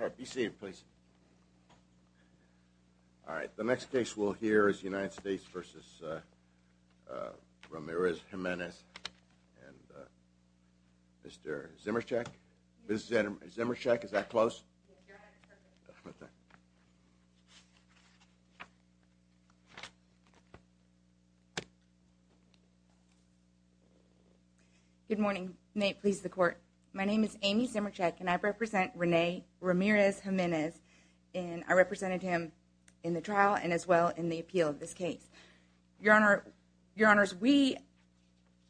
All right, the next case we'll hear is United States v. Ramirez-Jimenez and Mr. Zymurczak. Ms. Zymurczak, is that close? Good morning. May it please the Court. My name is Amy Zymurczak and I represent Rene Ramirez-Jimenez and I represented him in the trial and as well in the appeal of this case. Your Honor, we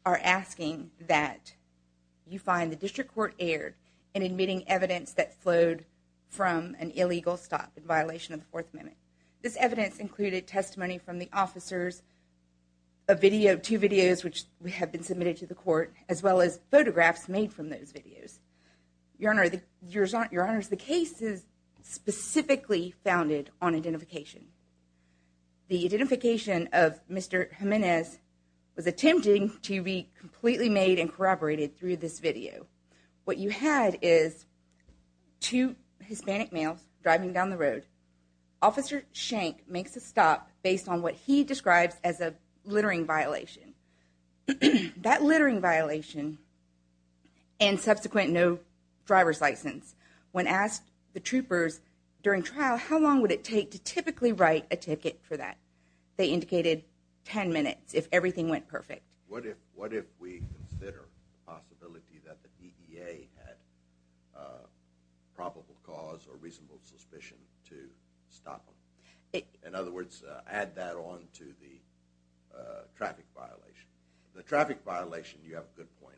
are asking that you find the District Court aired in admitting evidence that flowed from an illegal stop in violation of the Fourth Amendment. This evidence included testimony from the officers, two videos which have been submitted to the Court, as well as photographs made from those videos. Your Honor, the case is specifically founded on identification. The identification of Mr. Jimenez was attempting to be completely made and corroborated through this video. What you had is two Hispanic males driving down the road. Officer Schenck makes a stop based on what he describes as a littering violation. That littering violation and subsequent no driver's license, when asked the troopers during trial how long would it take to typically write a ticket for that, they indicated 10 minutes if everything went perfect. What if we consider the possibility that the DEA had probable cause or reasonable suspicion to stop them? In other words, add that on to the traffic violation. The traffic violation, you have a good point.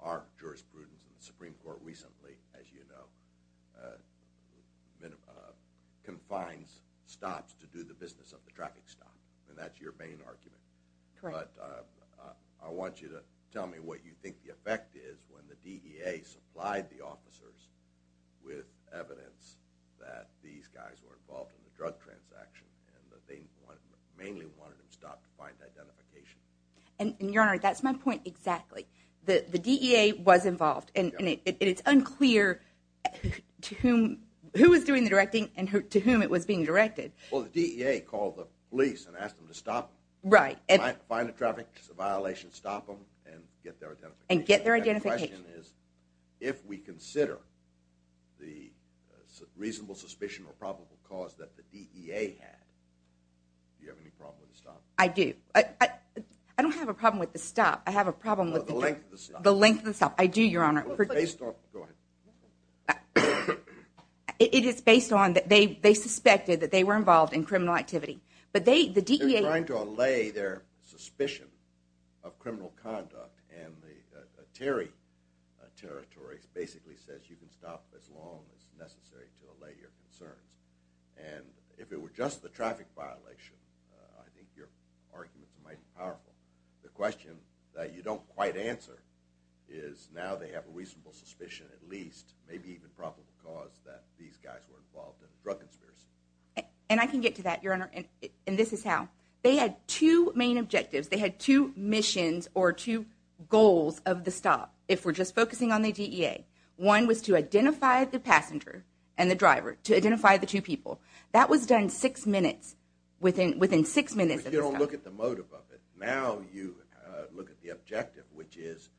Our jurisprudence in the Supreme Court recently, as you know, confines stops to do the business of the traffic stop and that's your main argument. But I want you to tell me what you think the effect is when the DEA supplied the officers with evidence that these guys were involved in the drug transaction and that they mainly wanted them stopped to find identification. Your Honor, that's my point exactly. The DEA was involved and it's unclear who was doing the directing and to whom it was being directed. Well, the DEA called the police and asked them to stop them. Right. Find the traffic violation, stop them and get their identification. And get their identification. The question is, if we consider the reasonable suspicion or probable cause that the DEA had, do you have any problem with the stop? I do. I don't have a problem with the stop. I have a problem with the length of the stop. I do, Your Honor. Based on, go ahead. It is based on that they suspected that they were involved in criminal activity. They're trying to allay their suspicion of criminal conduct and the Terry territory basically says you can stop as long as necessary to allay your concerns. And if it were just the traffic violation, I think your arguments might be powerful. The question that you don't quite answer is now they have a reasonable suspicion at least, maybe even probable cause that these guys were involved in a drug conspiracy. And I can get to that, Your Honor, and this is how. They had two main objectives. They had two missions or two goals of the stop if we're just focusing on the DEA. One was to identify the passenger and the driver, to identify the two people. That was done six minutes, within six minutes of the stop. But you don't look at the motive of it. Now you look at the objective, which is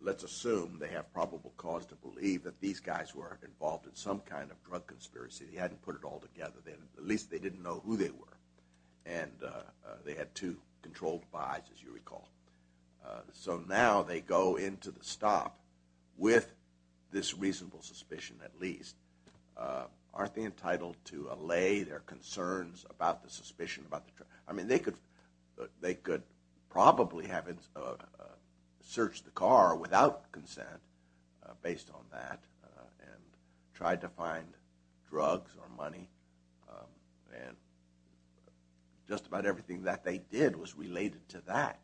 let's assume they have probable cause to believe that these guys were involved in some kind of drug conspiracy. They hadn't put it all together. At least they didn't know who they were. And they had two controlled buys, as you recall. So now they go into the stop with this reasonable suspicion at least. Aren't they entitled to allay their concerns about the suspicion? I mean they could probably have searched the car without consent based on that and tried to find drugs or money. And just about everything that they did was related to that.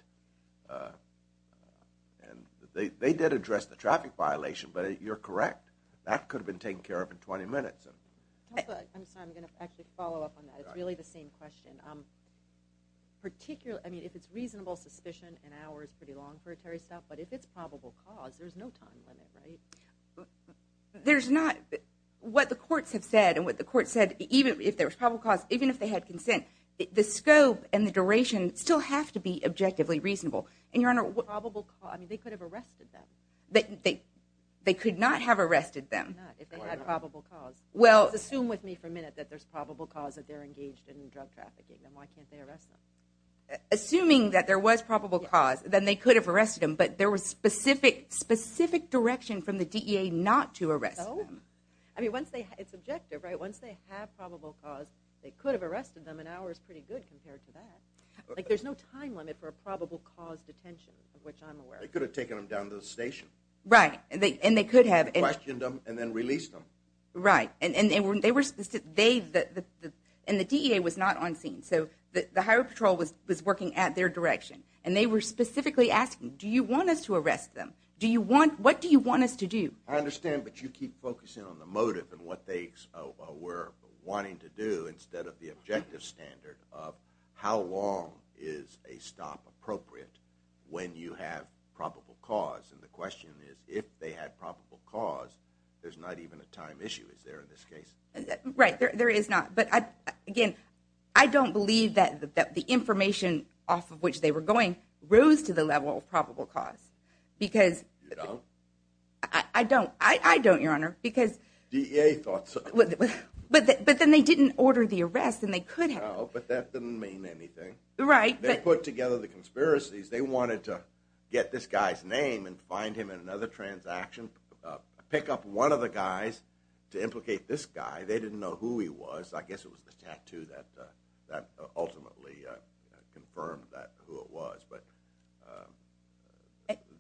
And they did address the traffic violation, but you're correct. That could have been taken care of in 20 minutes. I'm sorry, I'm going to actually follow up on that. It's really the same question. I mean if it's reasonable suspicion, an hour is pretty long for a terrorist stop. But if it's probable cause, there's no time limit, right? There's not. What the courts have said and what the courts said, even if there was probable cause, even if they had consent, the scope and the duration still have to be objectively reasonable. And, Your Honor, they could have arrested them. They could not have arrested them. They could not, if they had probable cause. Just assume with me for a minute that there's probable cause that they're engaged in drug trafficking. Then why can't they arrest them? Assuming that there was probable cause, then they could have arrested them. But there was specific direction from the DEA not to arrest them. No. I mean it's objective, right? Once they have probable cause, they could have arrested them. An hour is pretty good compared to that. There's no time limit for a probable cause detention, of which I'm aware. They could have taken them down to the station. Right. And they could have. Questioned them and then released them. Right. And the DEA was not on scene, so the Highway Patrol was working at their direction. And they were specifically asking, do you want us to arrest them? What do you want us to do? I understand, but you keep focusing on the motive and what they were wanting to do instead of the objective standard of how long is a stop appropriate when you have probable cause. And the question is, if they had probable cause, there's not even a time issue. Is there in this case? Right. There is not. But again, I don't believe that the information off of which they were going rose to the level of probable cause. You don't? I don't, Your Honor. DEA thought so. But then they didn't order the arrest and they could have. No, but that doesn't mean anything. Right. They put together the conspiracies. They wanted to get this guy's name and find him in another transaction, pick up one of the guys to implicate this guy. They didn't know who he was. I guess it was the tattoo that ultimately confirmed who it was. But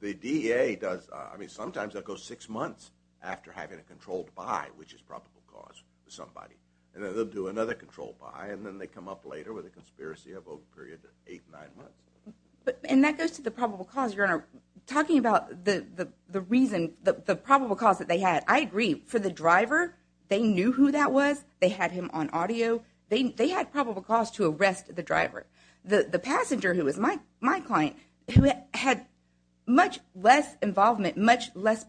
the DEA does, I mean, sometimes they'll go six months after having a controlled buy, which is probable cause for somebody. And then they'll do another controlled buy, and then they come up later with a conspiracy of a period of eight, nine months. And that goes to the probable cause, Your Honor. Talking about the reason, the probable cause that they had, I agree. For the driver, they knew who that was. They had him on audio. They had probable cause to arrest the driver. The passenger, who was my client, had much less involvement, much less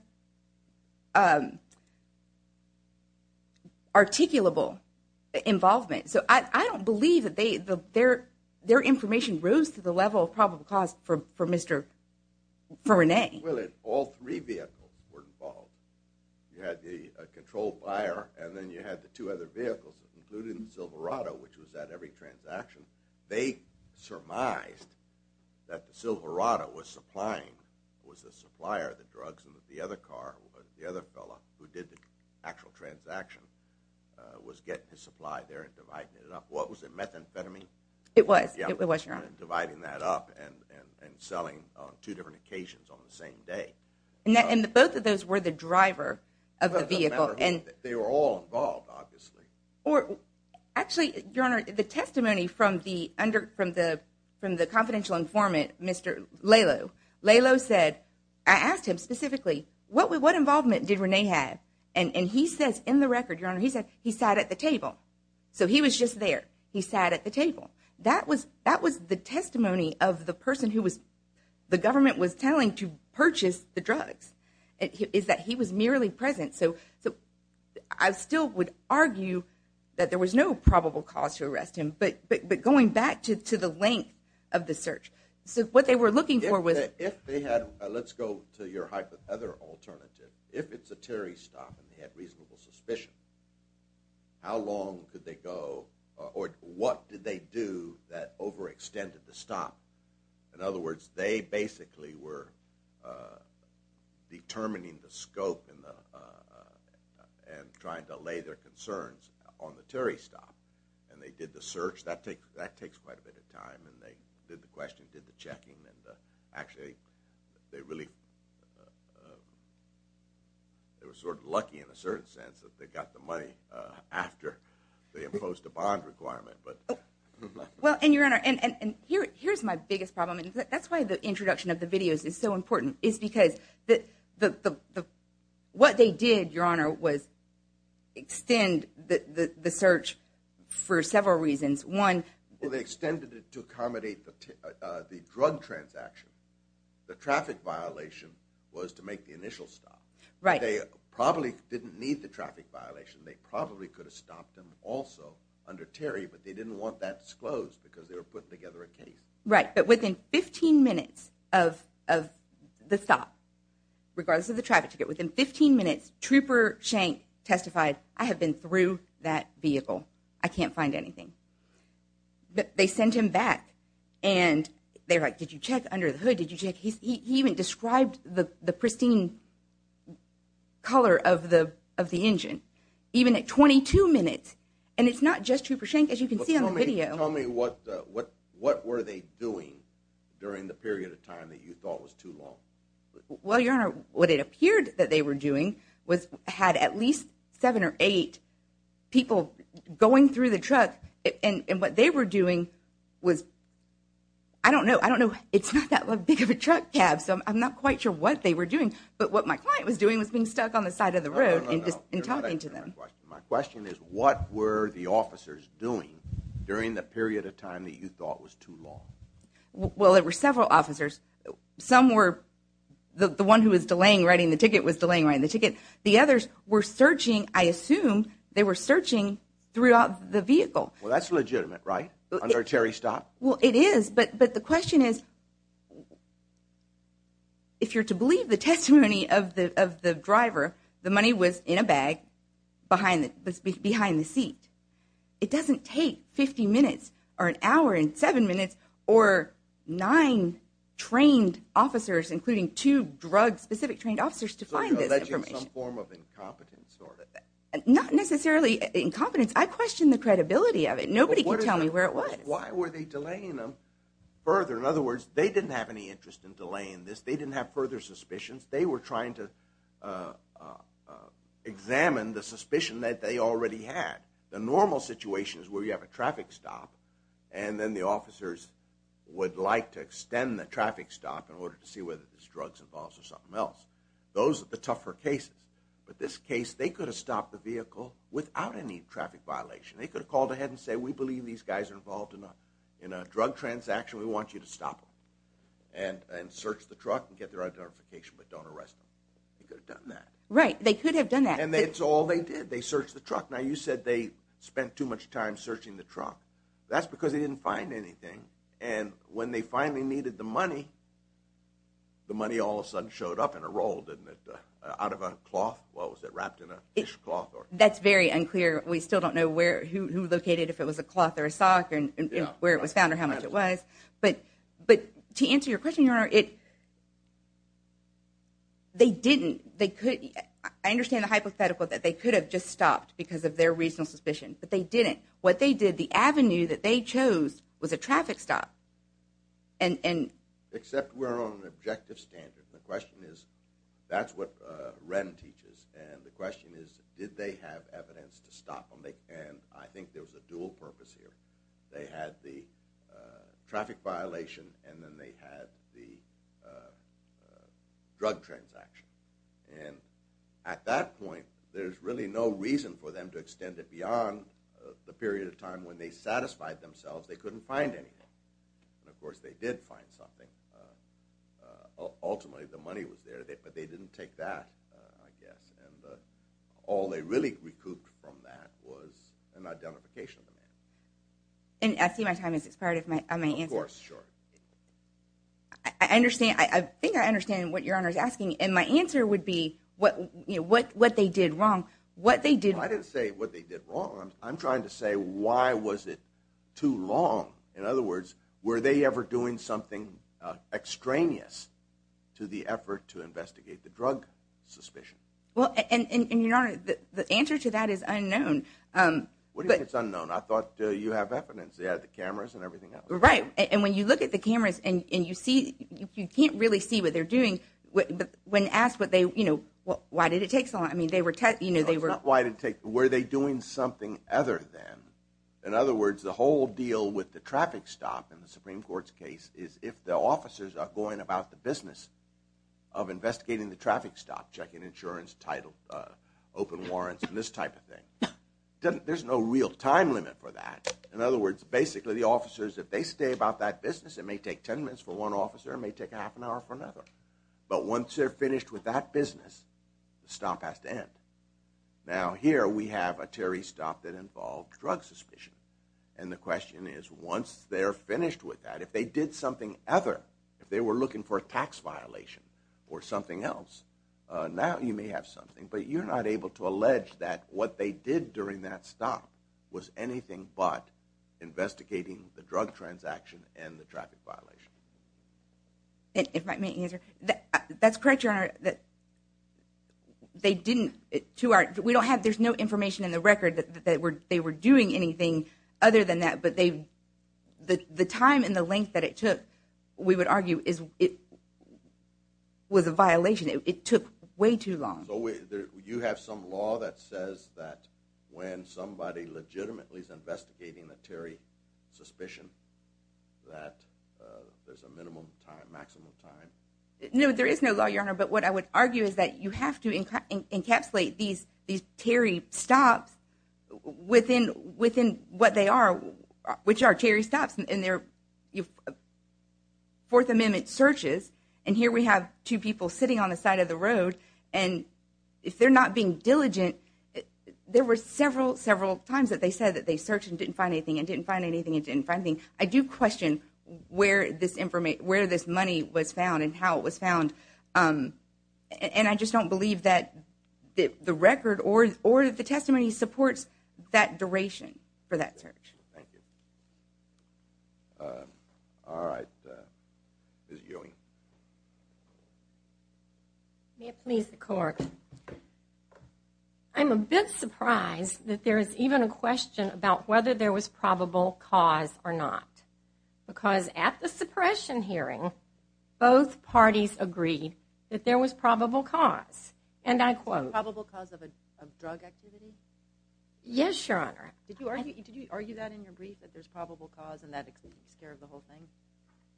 articulable involvement. So I don't believe that their information rose to the level of probable cause for Mr. René. Well, all three vehicles were involved. You had the controlled buyer, and then you had the two other vehicles, including the Silverado, which was at every transaction. They surmised that the Silverado was supplying, was the supplier of the drugs, and that the other car, the other fellow who did the actual transaction, was getting his supply there and dividing it up. What was it, methamphetamine? It was, Your Honor. Dividing that up and selling on two different occasions on the same day. And both of those were the driver of the vehicle. They were all involved, obviously. Actually, Your Honor, the testimony from the confidential informant, Mr. Lalo, Lalo said, I asked him specifically, what involvement did René have? And he says, in the record, Your Honor, he said he sat at the table. So he was just there. He sat at the table. That was the testimony of the person who the government was telling to purchase the drugs, is that he was merely present. So I still would argue that there was no probable cause to arrest him. But going back to the length of the search, what they were looking for was— Let's go to your hypothetical alternative. If it's a Terry stop and they had reasonable suspicion, how long could they go or what did they do that overextended the stop? In other words, they basically were determining the scope and trying to lay their concerns on the Terry stop. And they did the search. That takes quite a bit of time. And they did the question, did the checking, and actually they really were sort of lucky in a certain sense that they got the money after they imposed a bond requirement. Well, and, Your Honor, here's my biggest problem. That's why the introduction of the videos is so important. It's because what they did, Your Honor, was extend the search for several reasons. One— Well, they extended it to accommodate the drug transaction. The traffic violation was to make the initial stop. Right. They probably didn't need the traffic violation. They probably could have stopped them also under Terry, but they didn't want that disclosed because they were putting together a case. Right. But within 15 minutes of the stop, regardless of the traffic ticket, within 15 minutes, Trooper Schenck testified, I have been through that vehicle. I can't find anything. But they sent him back, and they're like, did you check under the hood? Did you check? He even described the pristine color of the engine, even at 22 minutes. And it's not just Trooper Schenck, as you can see on the video. Tell me what were they doing during the period of time that you thought was too long. Well, Your Honor, what it appeared that they were doing was had at least seven or eight people going through the truck. And what they were doing was—I don't know. I don't know. It's not that big of a truck cab, so I'm not quite sure what they were doing. But what my client was doing was being stuck on the side of the road and talking to them. My question is, what were the officers doing during the period of time that you thought was too long? Well, there were several officers. Some were—the one who was delaying writing the ticket was delaying writing the ticket. The others were searching. I assume they were searching throughout the vehicle. Well, that's legitimate, right, under Cherry Stop? Well, it is. But the question is, if you're to believe the testimony of the driver, the money was in a bag behind the seat. It doesn't take 50 minutes or an hour and seven minutes or nine trained officers, including two drug-specific trained officers, to find this information. So you're alleging some form of incompetence or— Not necessarily incompetence. I question the credibility of it. Nobody can tell me where it was. Why were they delaying them further? In other words, they didn't have any interest in delaying this. They didn't have further suspicions. They were trying to examine the suspicion that they already had. The normal situation is where you have a traffic stop, and then the officers would like to extend the traffic stop in order to see whether there's drugs involved or something else. Those are the tougher cases. But this case, they could have stopped the vehicle without any traffic violation. They could have called ahead and said, we believe these guys are involved in a drug transaction. We want you to stop them and search the truck and get their identification, but don't arrest them. They could have done that. Right, they could have done that. And that's all they did. They searched the truck. Now, you said they spent too much time searching the truck. That's because they didn't find anything. And when they finally needed the money, the money all of a sudden showed up in a roll, didn't it, out of a cloth? What was it, wrapped in a fish cloth? That's very unclear. We still don't know who located it, if it was a cloth or a sock, and where it was found or how much it was. But to answer your question, Your Honor, they didn't. I understand the hypothetical that they could have just stopped because of their reasonable suspicion, but they didn't. What they did, the avenue that they chose was a traffic stop. Except we're on an objective standard. The question is, that's what Wren teaches, and the question is, did they have evidence to stop them? And I think there was a dual purpose here. They had the traffic violation and then they had the drug transaction. And at that point, there's really no reason for them to extend it beyond the period of time when they satisfied themselves they couldn't find anything. And, of course, they did find something. Ultimately the money was there, but they didn't take that, I guess. And all they really recouped from that was an identification of the man. And I see my time has expired if I may answer. Of course, sure. I think I understand what Your Honor is asking. And my answer would be what they did wrong. I didn't say what they did wrong. I'm trying to say why was it too long. In other words, were they ever doing something extraneous to the effort to investigate the drug suspicion? Well, and Your Honor, the answer to that is unknown. What do you mean it's unknown? I thought you have evidence. They had the cameras and everything else. Right. And when you look at the cameras and you can't really see what they're doing, when asked why did it take so long, I mean they were testing. No, it's not why it didn't take. Were they doing something other than? In other words, the whole deal with the traffic stop in the Supreme Court's case is if the officers are going about the business of investigating the traffic stop, checking insurance, title, open warrants, and this type of thing. There's no real time limit for that. In other words, basically the officers, if they stay about that business, it may take 10 minutes for one officer. It may take half an hour for another. But once they're finished with that business, the stop has to end. Now here we have a Terry stop that involved drug suspicion, and the question is once they're finished with that, if they did something other, if they were looking for a tax violation or something else, now you may have something, but you're not able to allege that what they did during that stop was anything but investigating the drug transaction and the traffic violation. If I may answer, that's correct, Your Honor. They didn't. There's no information in the record that they were doing anything other than that, but the time and the length that it took, we would argue, was a violation. It took way too long. So you have some law that says that when somebody legitimately is investigating the Terry suspicion that there's a minimum time, maximum time? No, there is no law, Your Honor, but what I would argue is that you have to encapsulate these Terry stops within what they are, which are Terry stops in their Fourth Amendment searches, and here we have two people sitting on the side of the road, and if they're not being diligent, there were several, several times that they said that they searched and didn't find anything and didn't find anything and didn't find anything. I do question where this money was found and how it was found, and I just don't believe that the record or the testimony supports that duration for that search. Thank you. All right, Ms. Ewing. May it please the Court. I'm a bit surprised that there is even a question about whether there was probable cause or not, because at the suppression hearing, both parties agreed that there was probable cause, and I quote. Probable cause of a drug activity? Yes, Your Honor. Did you argue that in your brief, that there's probable cause and that takes care of the whole thing?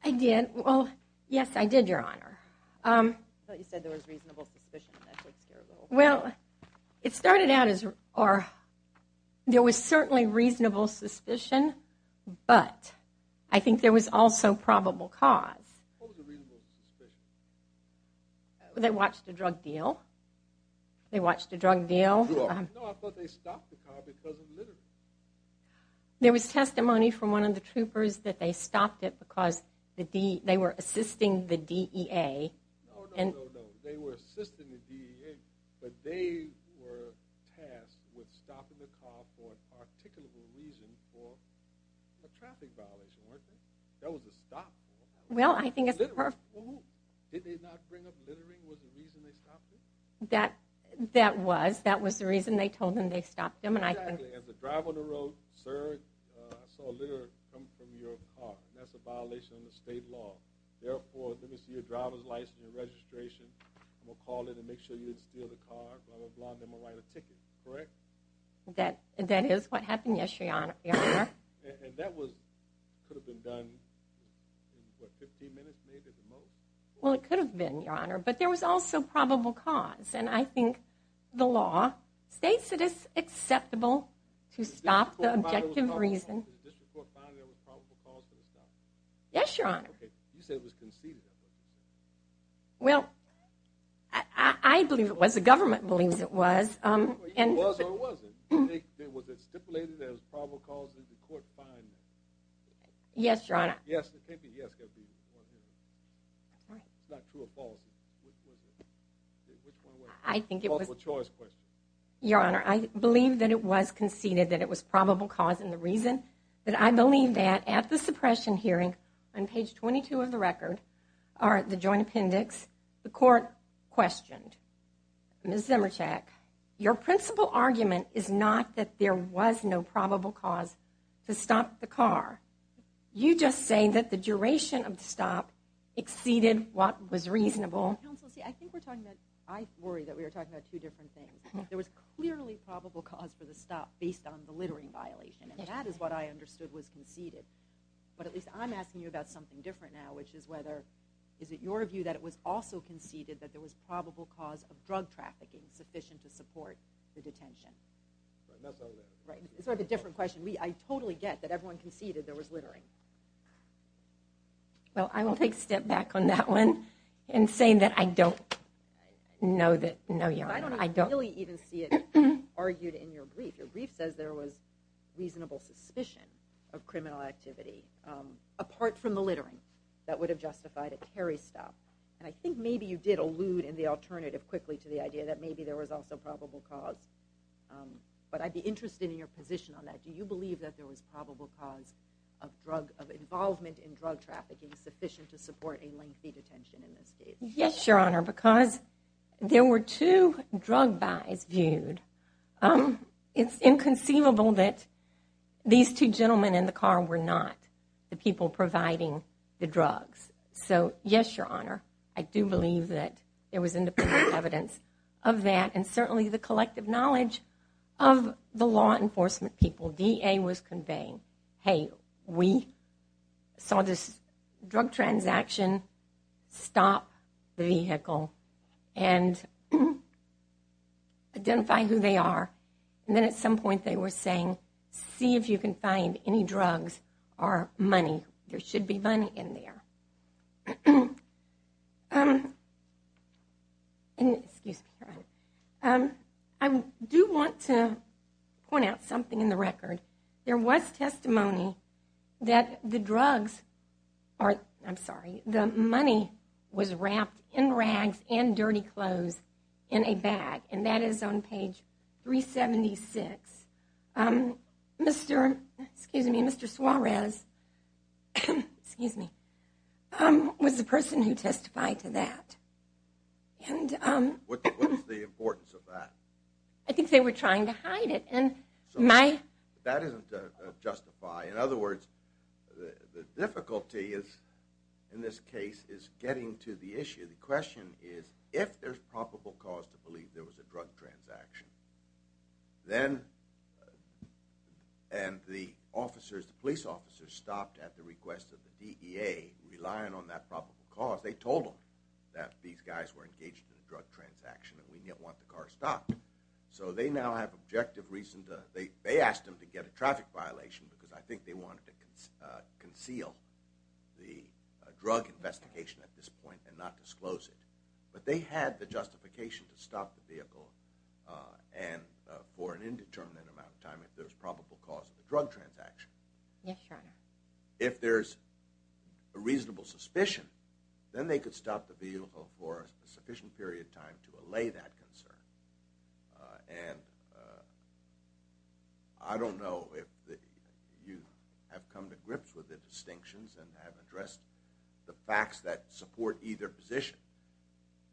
I did. Well, yes, I did, Your Honor. I thought you said there was reasonable suspicion and that takes care of the whole thing. Well, it started out as there was certainly reasonable suspicion, but I think there was also probable cause. What was the reasonable suspicion? They watched a drug deal. They watched a drug deal. No, I thought they stopped the car because of littering. There was testimony from one of the troopers that they stopped it because they were assisting the DEA. No, no, no, no. They were assisting the DEA, but they were tasked with stopping the car for an articulable reason for a traffic violation, weren't they? That was a stop. Well, I think it's the purpose. Did they not bring up littering was the reason they stopped it? That was. That was the reason they told them they stopped them. Exactly. As a driver on the road, sir, I saw litter come from your car. That's a violation of the state law. Therefore, let me see your driver's license and registration. I'm going to call in and make sure you didn't steal the car. I'm going to blind them and write a ticket, correct? That is what happened, yes, Your Honor. And that could have been done in, what, 15 minutes maybe at the most? Well, it could have been, Your Honor, but there was also probable cause, and I think the law states that it's acceptable to stop the objective reason. Did the district court find there was probable cause for the stop? Yes, Your Honor. Okay. You said it was conceded. Well, I believe it was. The government believes it was. It was or it wasn't. Was it stipulated there was probable cause? Did the court find that? Yes, Your Honor. Yes, it could be. Yes, it could be. That's right. It's not true or false. Which one was it? I think it was. Multiple choice question. Your Honor, I believe that it was conceded that it was probable cause, and the reason that I believe that, at the suppression hearing on page 22 of the record, or at the joint appendix, the court questioned. Ms. Zimerchak, your principal argument is not that there was no probable cause to stop the car. You're just saying that the duration of the stop exceeded what was reasonable. Counsel, see, I think we're talking about, I worry that we are talking about two different things. There was clearly probable cause for the stop based on the littering violation, and that is what I understood was conceded. But at least I'm asking you about something different now, which is whether, is it your view that it was also conceded that there was probable cause of drug trafficking sufficient to support the detention? Not necessarily. It's sort of a different question. I totally get that everyone conceded there was littering. Well, I will take a step back on that one and say that I don't know that, no, Your Honor. I don't really even see it argued in your brief. Your brief says there was reasonable suspicion of criminal activity, apart from the littering, that would have justified a carry stop. And I think maybe you did allude in the alternative quickly to the idea that maybe there was also probable cause. But I'd be interested in your position on that. Do you believe that there was probable cause of involvement in drug trafficking sufficient to support a lengthy detention in this case? Yes, Your Honor, because there were two drug buys viewed. It's inconceivable that these two gentlemen in the car were not the people providing the drugs. So, yes, Your Honor, I do believe that there was independent evidence of that, and certainly the collective knowledge of the law enforcement people DA was conveying. Hey, we saw this drug transaction, stop the vehicle, and identify who they are. And then at some point they were saying, see if you can find any drugs or money. There should be money in there. Excuse me, Your Honor. I do want to point out something in the record. There was testimony that the money was wrapped in rags and dirty clothes in a bag, and that is on page 376. Mr. Suarez was the person who testified to that. What was the importance of that? I think they were trying to hide it. That isn't to justify. In other words, the difficulty in this case is getting to the issue. The question is, if there's probable cause to believe there was a drug transaction, and the police officers stopped at the request of the DEA, relying on that probable cause, they told them that these guys were engaged in a drug transaction and we didn't want the car stopped. So they now have objective reason to, they asked them to get a traffic violation, because I think they wanted to conceal the drug investigation at this point and not disclose it. But they had the justification to stop the vehicle for an indeterminate amount of time if there's probable cause of a drug transaction. Yes, Your Honor. If there's a reasonable suspicion, then they could stop the vehicle for a sufficient period of time to allay that concern. And I don't know if you have come to grips with the distinctions and have addressed the facts that support either position.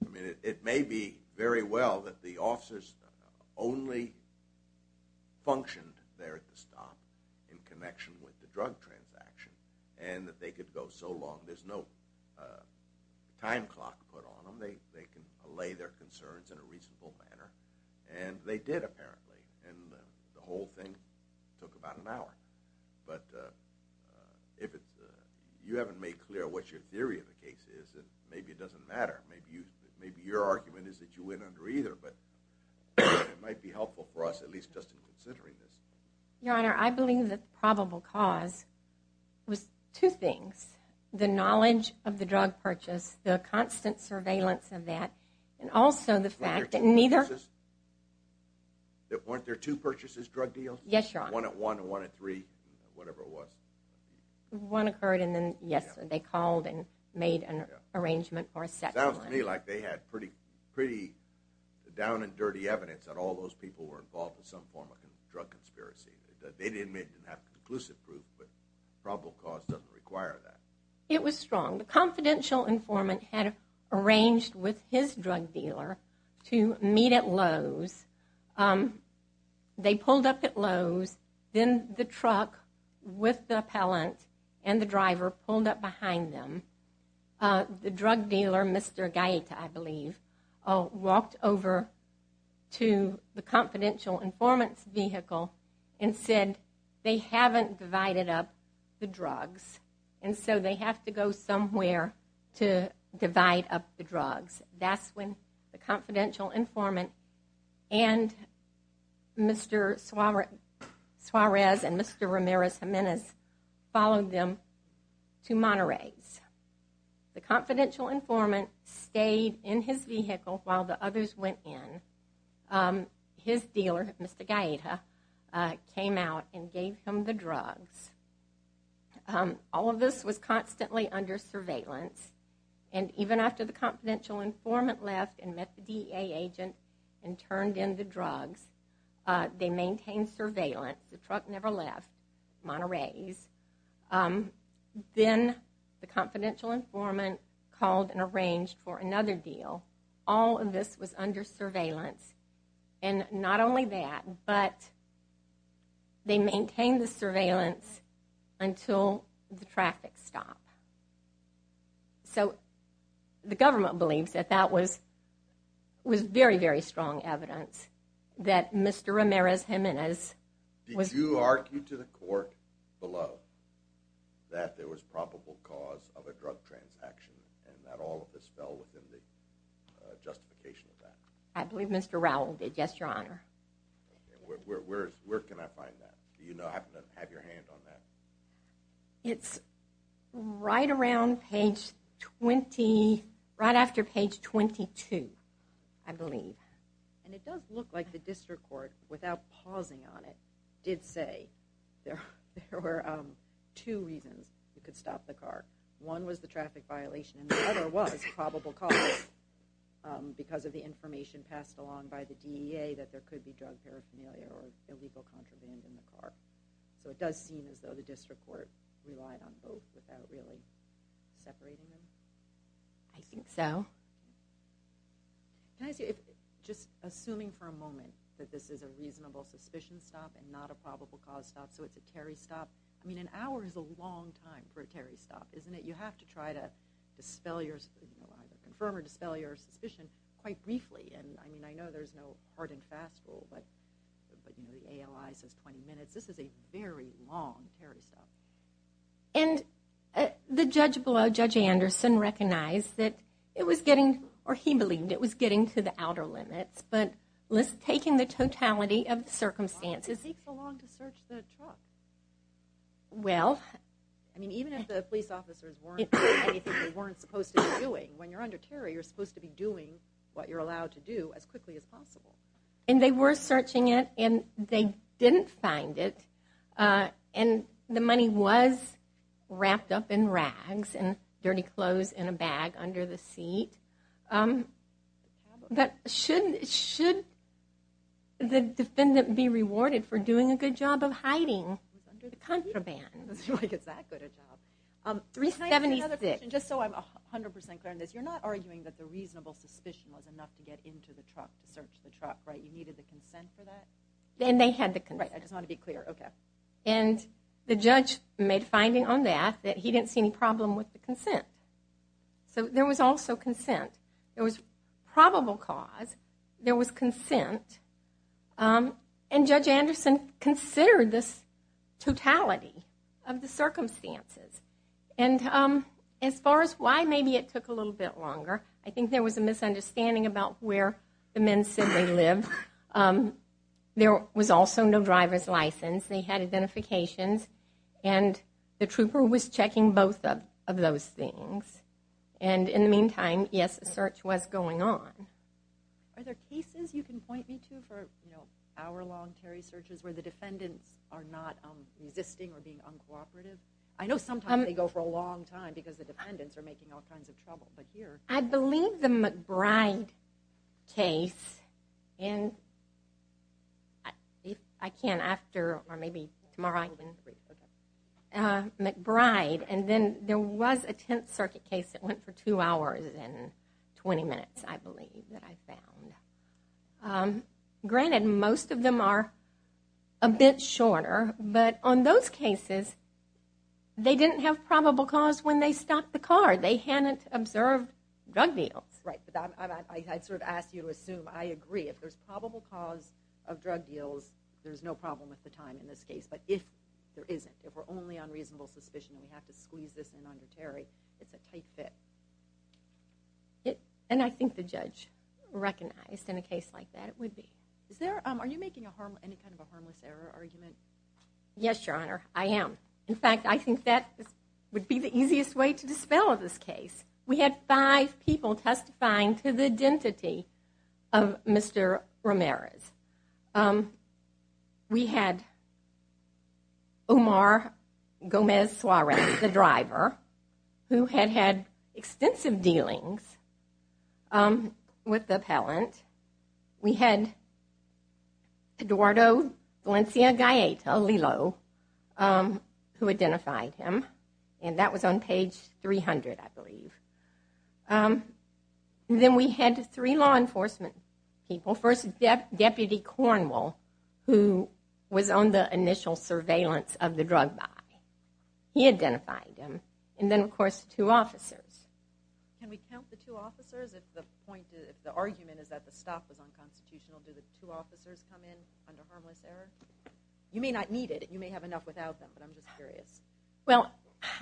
I mean, it may be very well that the officers only functioned there at the stop in connection with the drug transaction, and that they could go so long, there's no time clock put on them. They can allay their concerns in a reasonable manner. And they did, apparently. And the whole thing took about an hour. But if you haven't made clear what your theory of the case is, then maybe it doesn't matter. Maybe your argument is that you went under either, but it might be helpful for us, at least just in considering this. Your Honor, I believe that the probable cause was two things. The knowledge of the drug purchase, the constant surveillance of that, and also the fact that neither – Weren't there two purchases? Weren't there two purchases, drug deals? Yes, Your Honor. One at one and one at three, whatever it was. One occurred and then, yes, they called and made an arrangement for a second one. It sounds to me like they had pretty down and dirty evidence that all those people were involved in some form of drug conspiracy. They didn't have conclusive proof, but probable cause doesn't require that. It was strong. The confidential informant had arranged with his drug dealer to meet at Lowe's. They pulled up at Lowe's. Then the truck with the appellant and the driver pulled up behind them. The drug dealer, Mr. Gaeta, I believe, walked over to the confidential informant's vehicle and said, they haven't divided up the drugs, and so they have to go somewhere to divide up the drugs. That's when the confidential informant and Mr. Suarez and Mr. Ramirez Jimenez followed them to Monterey's. The confidential informant stayed in his vehicle while the others went in. His dealer, Mr. Gaeta, came out and gave him the drugs. All of this was constantly under surveillance. Even after the confidential informant left and met the DEA agent and turned in the drugs, they maintained surveillance. The truck never left Monterey's. Then the confidential informant called and arranged for another deal. All of this was under surveillance. Not only that, but they maintained the surveillance until the traffic stopped. The government believes that that was very, very strong evidence that Mr. Ramirez Jimenez... Did you argue to the court below that there was probable cause of a drug transaction and that all of this fell within the justification of that? I believe Mr. Rowell did. Yes, Your Honor. Where can I find that? Do you happen to have your hand on that? It's right after page 22, I believe. And it does look like the district court, without pausing on it, did say there were two reasons it could stop the car. One was the traffic violation, and the other was probable cause, because of the information passed along by the DEA that there could be drug paraphernalia or illegal contraband in the car. So it does seem as though the district court relied on both without really separating them. I think so. Just assuming for a moment that this is a reasonable suspicion stop and not a probable cause stop, so it's a Terry stop. I mean, an hour is a long time for a Terry stop, isn't it? You have to try to confirm or dispel your suspicion quite briefly. And I mean, I know there's no hard and fast rule, but the ALI says 20 minutes. This is a very long Terry stop. And the judge below, Judge Anderson, recognized that it was getting, or he believed it was getting to the outer limits, but taking the totality of the circumstances... Well... I mean, even if the police officers weren't doing anything they weren't supposed to be doing, when you're under Terry, you're supposed to be doing what you're allowed to do as quickly as possible. And they were searching it, and they didn't find it. And the money was wrapped up in rags and dirty clothes in a bag under the seat. But should the defendant be rewarded for doing a good job of hiding the contraband? Like, is that good a job? 376... Can I ask you another question, just so I'm 100% clear on this? You're not arguing that the reasonable suspicion was enough to get into the truck to search the truck, right? You needed the consent for that? And they had the consent. Right, I just want to be clear, okay. And the judge made a finding on that, that he didn't see any problem with the consent. So there was also consent. There was probable cause. There was consent. And Judge Anderson considered this totality of the circumstances. And as far as why maybe it took a little bit longer, I think there was a misunderstanding about where the men said they lived. There was also no driver's license. They had identifications. And the trooper was checking both of those things. And in the meantime, yes, a search was going on. Are there cases you can point me to for hour-long Terry searches where the defendants are not resisting or being uncooperative? I know sometimes they go for a long time because the defendants are making all kinds of trouble. I believe the McBride case, and if I can, after or maybe tomorrow, McBride. And then there was a Tenth Circuit case that went for two hours and 20 minutes, I believe, that I found. Granted, most of them are a bit shorter. But on those cases, they didn't have probable cause when they stopped the car. They hadn't observed drug deals. Right, but I'd sort of ask you to assume I agree. If there's probable cause of drug deals, there's no problem with the time in this case. But if there isn't, if we're only on reasonable suspicion and we have to squeeze this in under Terry, it's a tight fit. And I think the judge recognized in a case like that it would be. Are you making any kind of a harmless error argument? Yes, Your Honor, I am. In fact, I think that would be the easiest way to dispel this case. We had five people testifying to the identity of Mr. Ramirez. We had Omar Gomez-Suarez, the driver, who had had extensive dealings with the appellant. We had Eduardo Valencia-Galleta, Lilo, who identified him. And that was on page 300, I believe. Then we had three law enforcement people. First, Deputy Cornwall, who was on the initial surveillance of the drug buy. He identified him. And then, of course, two officers. Can we count the two officers? If the argument is that the stop was unconstitutional, do the two officers come in under harmless error? You may not need it. You may have enough without them, but I'm just curious. Well,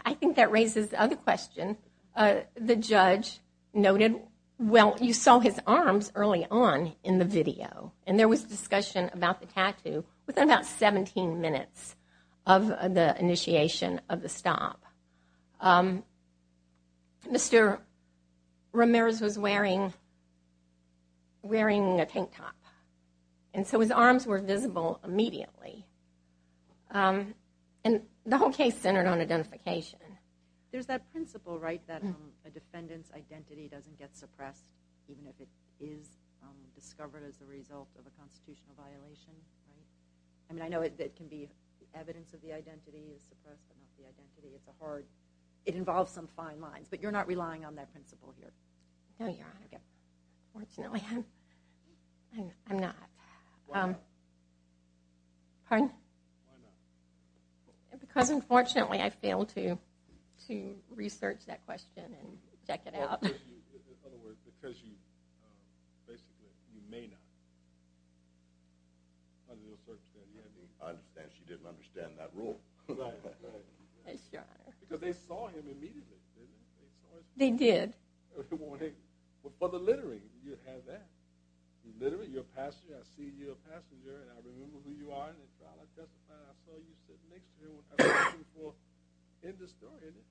I think that raises the other question. The judge noted, well, you saw his arms early on in the video. And there was discussion about the tattoo within about 17 minutes of the initiation of the stop. Mr. Ramirez was wearing a tank top. And so his arms were visible immediately. And the whole case centered on identification. There's that principle, right, that a defendant's identity doesn't get suppressed even if it is discovered as a result of a constitutional violation, right? I mean, I know it can be evidence of the identity is suppressed, but not the identity. It's a hard – it involves some fine lines. But you're not relying on that principle here. No, Your Honor. Unfortunately, I'm not. Why not? Pardon? Why not? Because, unfortunately, I failed to research that question and check it out. In other words, because you basically, you may not. I understand she didn't understand that rule. Right, right. Yes, Your Honor. Because they saw him immediately, didn't they? They did. Well, the littering, you have that. You're a passenger, I see you're a passenger, and I remember who you are. And I saw you sitting next to him. Well, end of story, isn't it?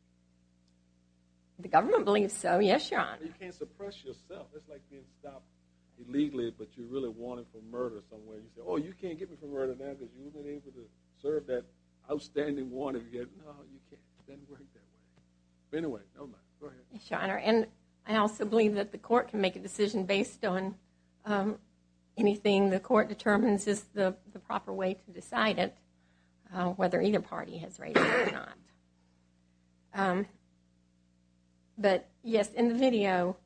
The government believes so, yes, Your Honor. You can't suppress yourself. It's like being stopped illegally, but you're really wanted for murder somewhere. You say, oh, you can't get me for murder now because you wouldn't have been able to serve that outstanding warrant. No, you can't. It doesn't work that way. Anyway, go ahead. Yes, Your Honor. And I also believe that the court can make a decision based on anything the court determines is the proper way to decide it, whether either party has raised it or not. But, yes, in the video,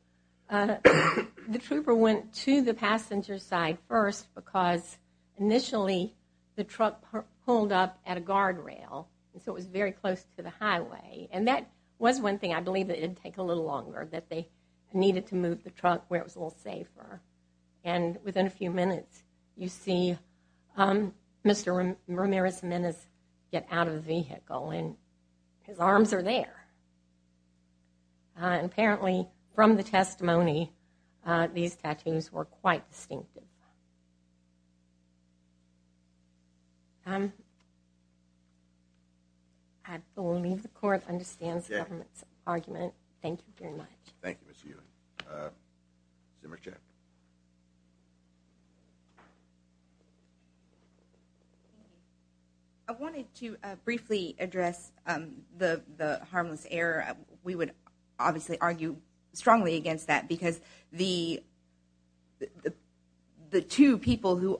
the trooper went to the passenger side first because initially the truck pulled up at a guardrail, so it was very close to the highway. And that was one thing I believe that it would take a little longer, that they needed to move the truck where it was a little safer. And within a few minutes, you see Mr. Ramirez Menes get out of the vehicle, and his arms are there. And apparently, from the testimony, these tattoos were quite distinctive. I believe the court understands the government's argument. Thank you very much. Thank you, Ms. Healy. Senator Chen. I wanted to briefly address the harmless error. We would obviously argue strongly against that because the two people who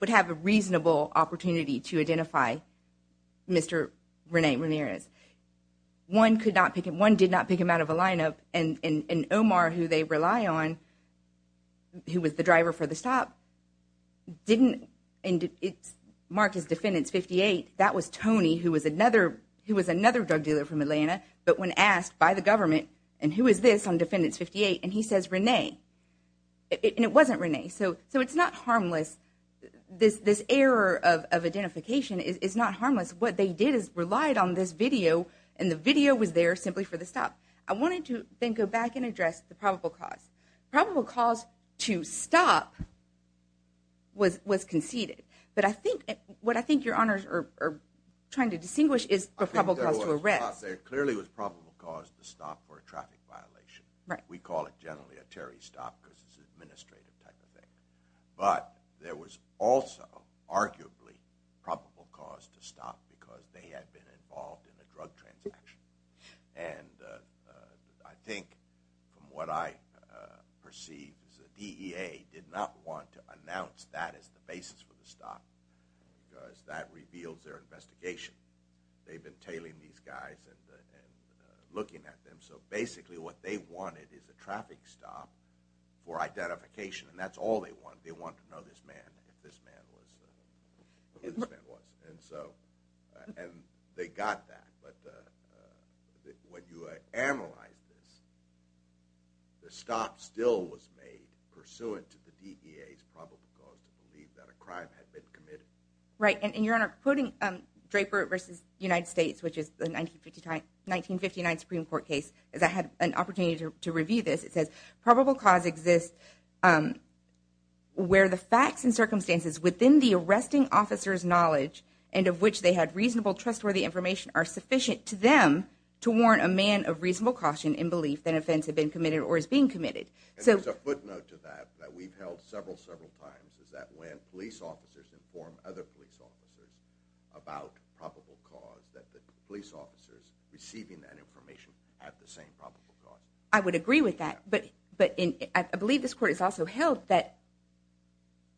would have a reasonable opportunity to identify Mr. Rene Ramirez, one did not pick him out of a lineup, and Omar, who they rely on, who was the driver for the stop, didn't mark his defendant's 58. That was Tony, who was another drug dealer from Atlanta, but when asked by the government, and who is this on defendant's 58, and he says Rene, and it wasn't Rene. So it's not harmless. This error of identification is not harmless. What they did is relied on this video, and the video was there simply for the stop. I wanted to then go back and address the probable cause. The probable cause to stop was conceded, but what I think your honors are trying to distinguish is the probable cause to arrest. There clearly was probable cause to stop for a traffic violation. We call it generally a Terry stop because it's an administrative type of thing. But there was also arguably probable cause to stop because they had been involved in a drug transaction, and I think from what I perceive is the DEA did not want to announce that as the basis for the stop because that reveals their investigation. They've been tailing these guys and looking at them, so basically what they wanted is a traffic stop for identification, and that's all they want. They want to know this man, if this man was who this man was. And so they got that, but when you analyze this, the stop still was made pursuant to the DEA's probable cause to believe that a crime had been committed. Right, and your honor, quoting Draper v. United States, which is the 1959 Supreme Court case, as I had an opportunity to review this, it says probable cause exists where the facts and circumstances within the arresting officer's knowledge and of which they had reasonable, trustworthy information are sufficient to them to warn a man of reasonable caution in belief that an offense had been committed or is being committed. And there's a footnote to that that we've held several, several times, is that when police officers inform other police officers about probable cause, that the police officers receiving that information have the same probable cause. I would agree with that, but I believe this court has also held that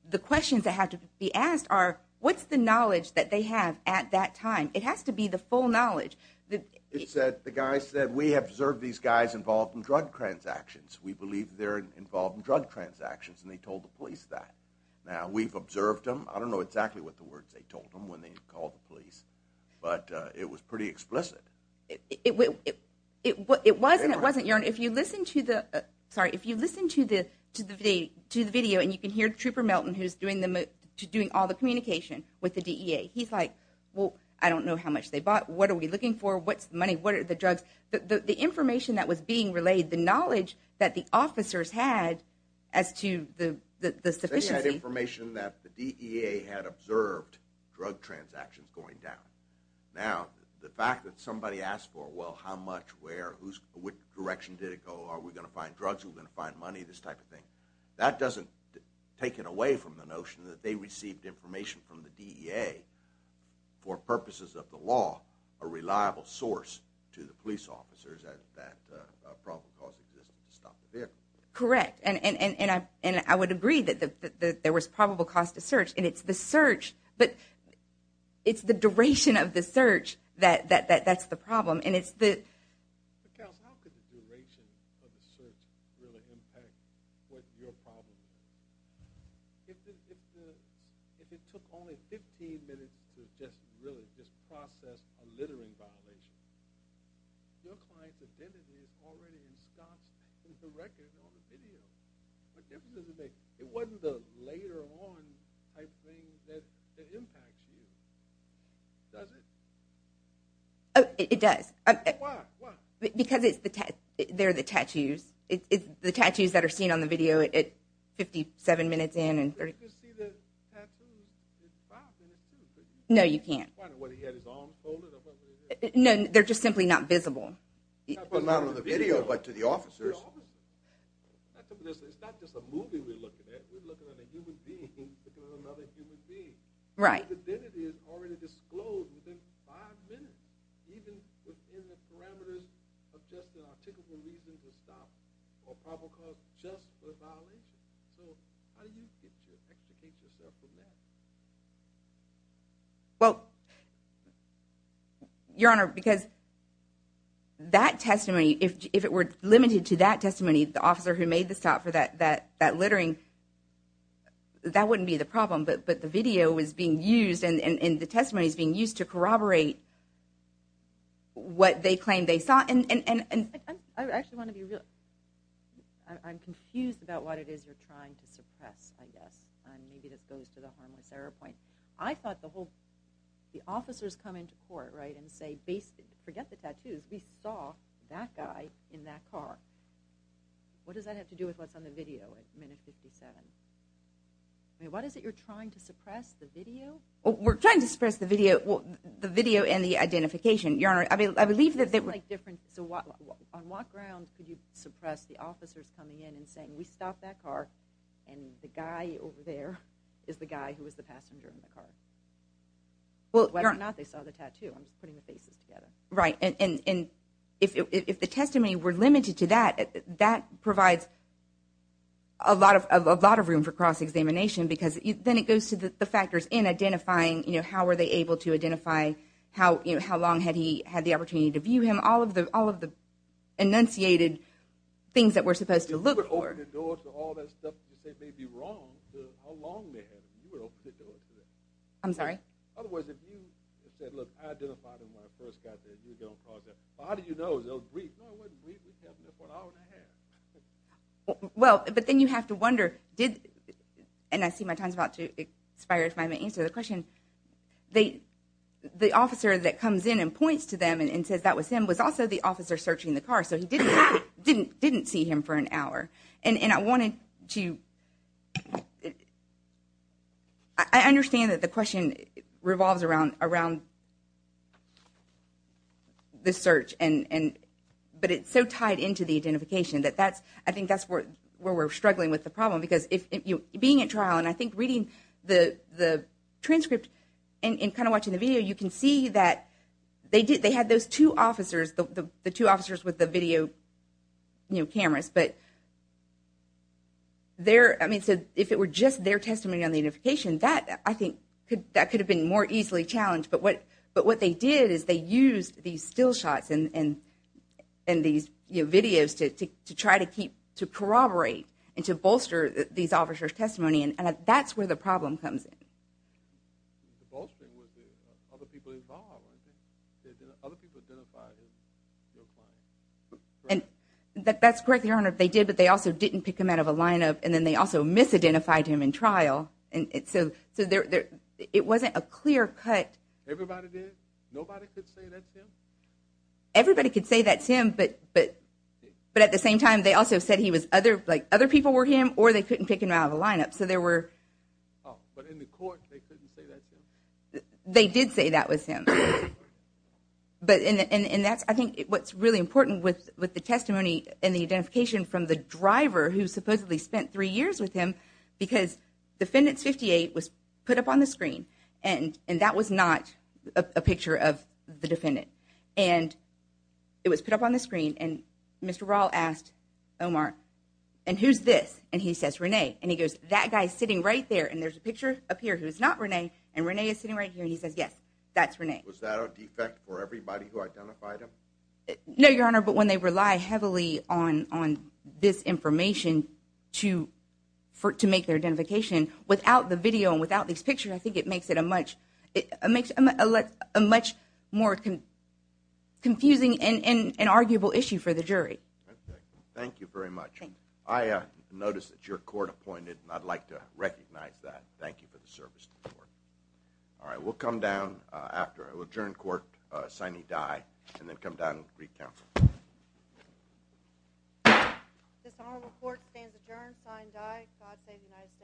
the questions that have to be asked are, what's the knowledge that they have at that time? It has to be the full knowledge. The guy said, we observed these guys involved in drug transactions. We believe they're involved in drug transactions, and they told the police that. Now, we've observed them. I don't know exactly what the words they told them when they called the police, but it was pretty explicit. It wasn't. If you listen to the video, and you can hear Trooper Melton, who's doing all the communication with the DEA, he's like, well, I don't know how much they bought. What are we looking for? What's the money? What are the drugs? The information that was being relayed, the knowledge that the officers had as to the sufficiency. They had information that the DEA had observed drug transactions going down. Now, the fact that somebody asked for, well, how much, where, which direction did it go? Are we going to find drugs? Are we going to find money? This type of thing. That doesn't take it away from the notion that they received information from the DEA for purposes of the law, a reliable source to the police officers that a probable cause existed to stop the vehicle. Correct, and I would agree that there was probable cause to search, and it's the search, but it's the duration of the search that's the problem, and it's the ‑‑ How could the duration of the search really impact what your problem is? If it took only 15 minutes to just really just process a littering violation, your client's identity is already in scots in the record on the video. What difference does it make? It wasn't the later on type thing that impacts you, does it? It does. Why, why? Because they're the tattoos. The tattoos that are seen on the video at 57 minutes in and 30 ‑‑ You can see the tattoos at five minutes, too. No, you can't. I don't know whether he had his arms folded or whatever it is. No, they're just simply not visible. Not on the video, but to the officers. It's not just a movie we're looking at. We're looking at a human being looking at another human being. Right. His identity is already disclosed within five minutes, even within the parameters of just an articulable reason to stop or probable cause just for a violation. So how do you educate yourself on that? Well, Your Honor, because that testimony, if it were limited to that testimony, the officer who made the stop for that littering, that wouldn't be the problem. But the video is being used and the testimony is being used to corroborate what they claim they saw. I actually want to be real. I'm confused about what it is you're trying to suppress, I guess. Maybe this goes to the harmless error point. I thought the officers come into court and say, forget the tattoos. We saw that guy in that car. What does that have to do with what's on the video at minute 57? What is it you're trying to suppress, the video? We're trying to suppress the video and the identification, Your Honor. I believe that they were different. So on what grounds could you suppress the officers coming in and saying, we stopped that car and the guy over there is the guy who was the passenger in the car? Whether or not they saw the tattoo. I'm just putting the faces together. Right, and if the testimony were limited to that, that provides a lot of room for cross-examination because then it goes to the factors in identifying, how were they able to identify, how long had he had the opportunity to view him, all of the enunciated things that we're supposed to look for. If you were to open the door to all that stuff and say they'd be wrong, how long they had him, you would open the door to that. I'm sorry? Otherwise, if you said, look, I identified him when I first got there, you don't cause that. But how do you know? It was brief. No, it wasn't brief. We kept him there for an hour and a half. Well, but then you have to wonder, and I see my time's about to expire if I haven't answered the question. The officer that comes in and points to them and says that was him was also the officer searching the car, so he didn't see him for an hour. And I wanted to – I understand that the question revolves around this search, but it's so tied into the identification that that's – I think that's where we're struggling with the problem because being at trial and I think reading the transcript and kind of watching the video, you can see that they had those two officers, the two officers with the video cameras, but if it were just their testimony on the identification, that I think could have been more easily challenged. But what they did is they used these still shots and these videos to try to corroborate and to bolster these officers' testimony, and that's where the problem comes in. The bolstering was the other people involved, wasn't it? Did the other people identify your client? That's correct, Your Honor. They did, but they also didn't pick him out of a lineup, and then they also misidentified him in trial. So it wasn't a clear cut. Everybody did? Nobody could say that's him? Everybody could say that's him, but at the same time they also said he was – other people were him or they couldn't pick him out of the lineup. But in the court they couldn't say that's him? They did say that was him. And that's, I think, what's really important with the testimony and the identification from the driver who supposedly spent three years with him because Defendant 58 was put up on the screen, and that was not a picture of the defendant. And it was put up on the screen, and Mr. Raul asked Omar, and who's this? And he says, Renee. And he goes, that guy's sitting right there, and there's a picture up here who's not Renee, and Renee is sitting right here, and he says, yes, that's Renee. Was that a defect for everybody who identified him? No, Your Honor, but when they rely heavily on this information to make their identification, without the video and without these pictures, I think it makes it a much more confusing and arguable issue for the jury. Thank you very much. I notice that you're court-appointed, and I'd like to recognize that. Thank you for the service to the court. All right, we'll come down after. We'll adjourn court, signee die, and then come down to Greek Council. This honorable court stands adjourned, signee die. God save the United States.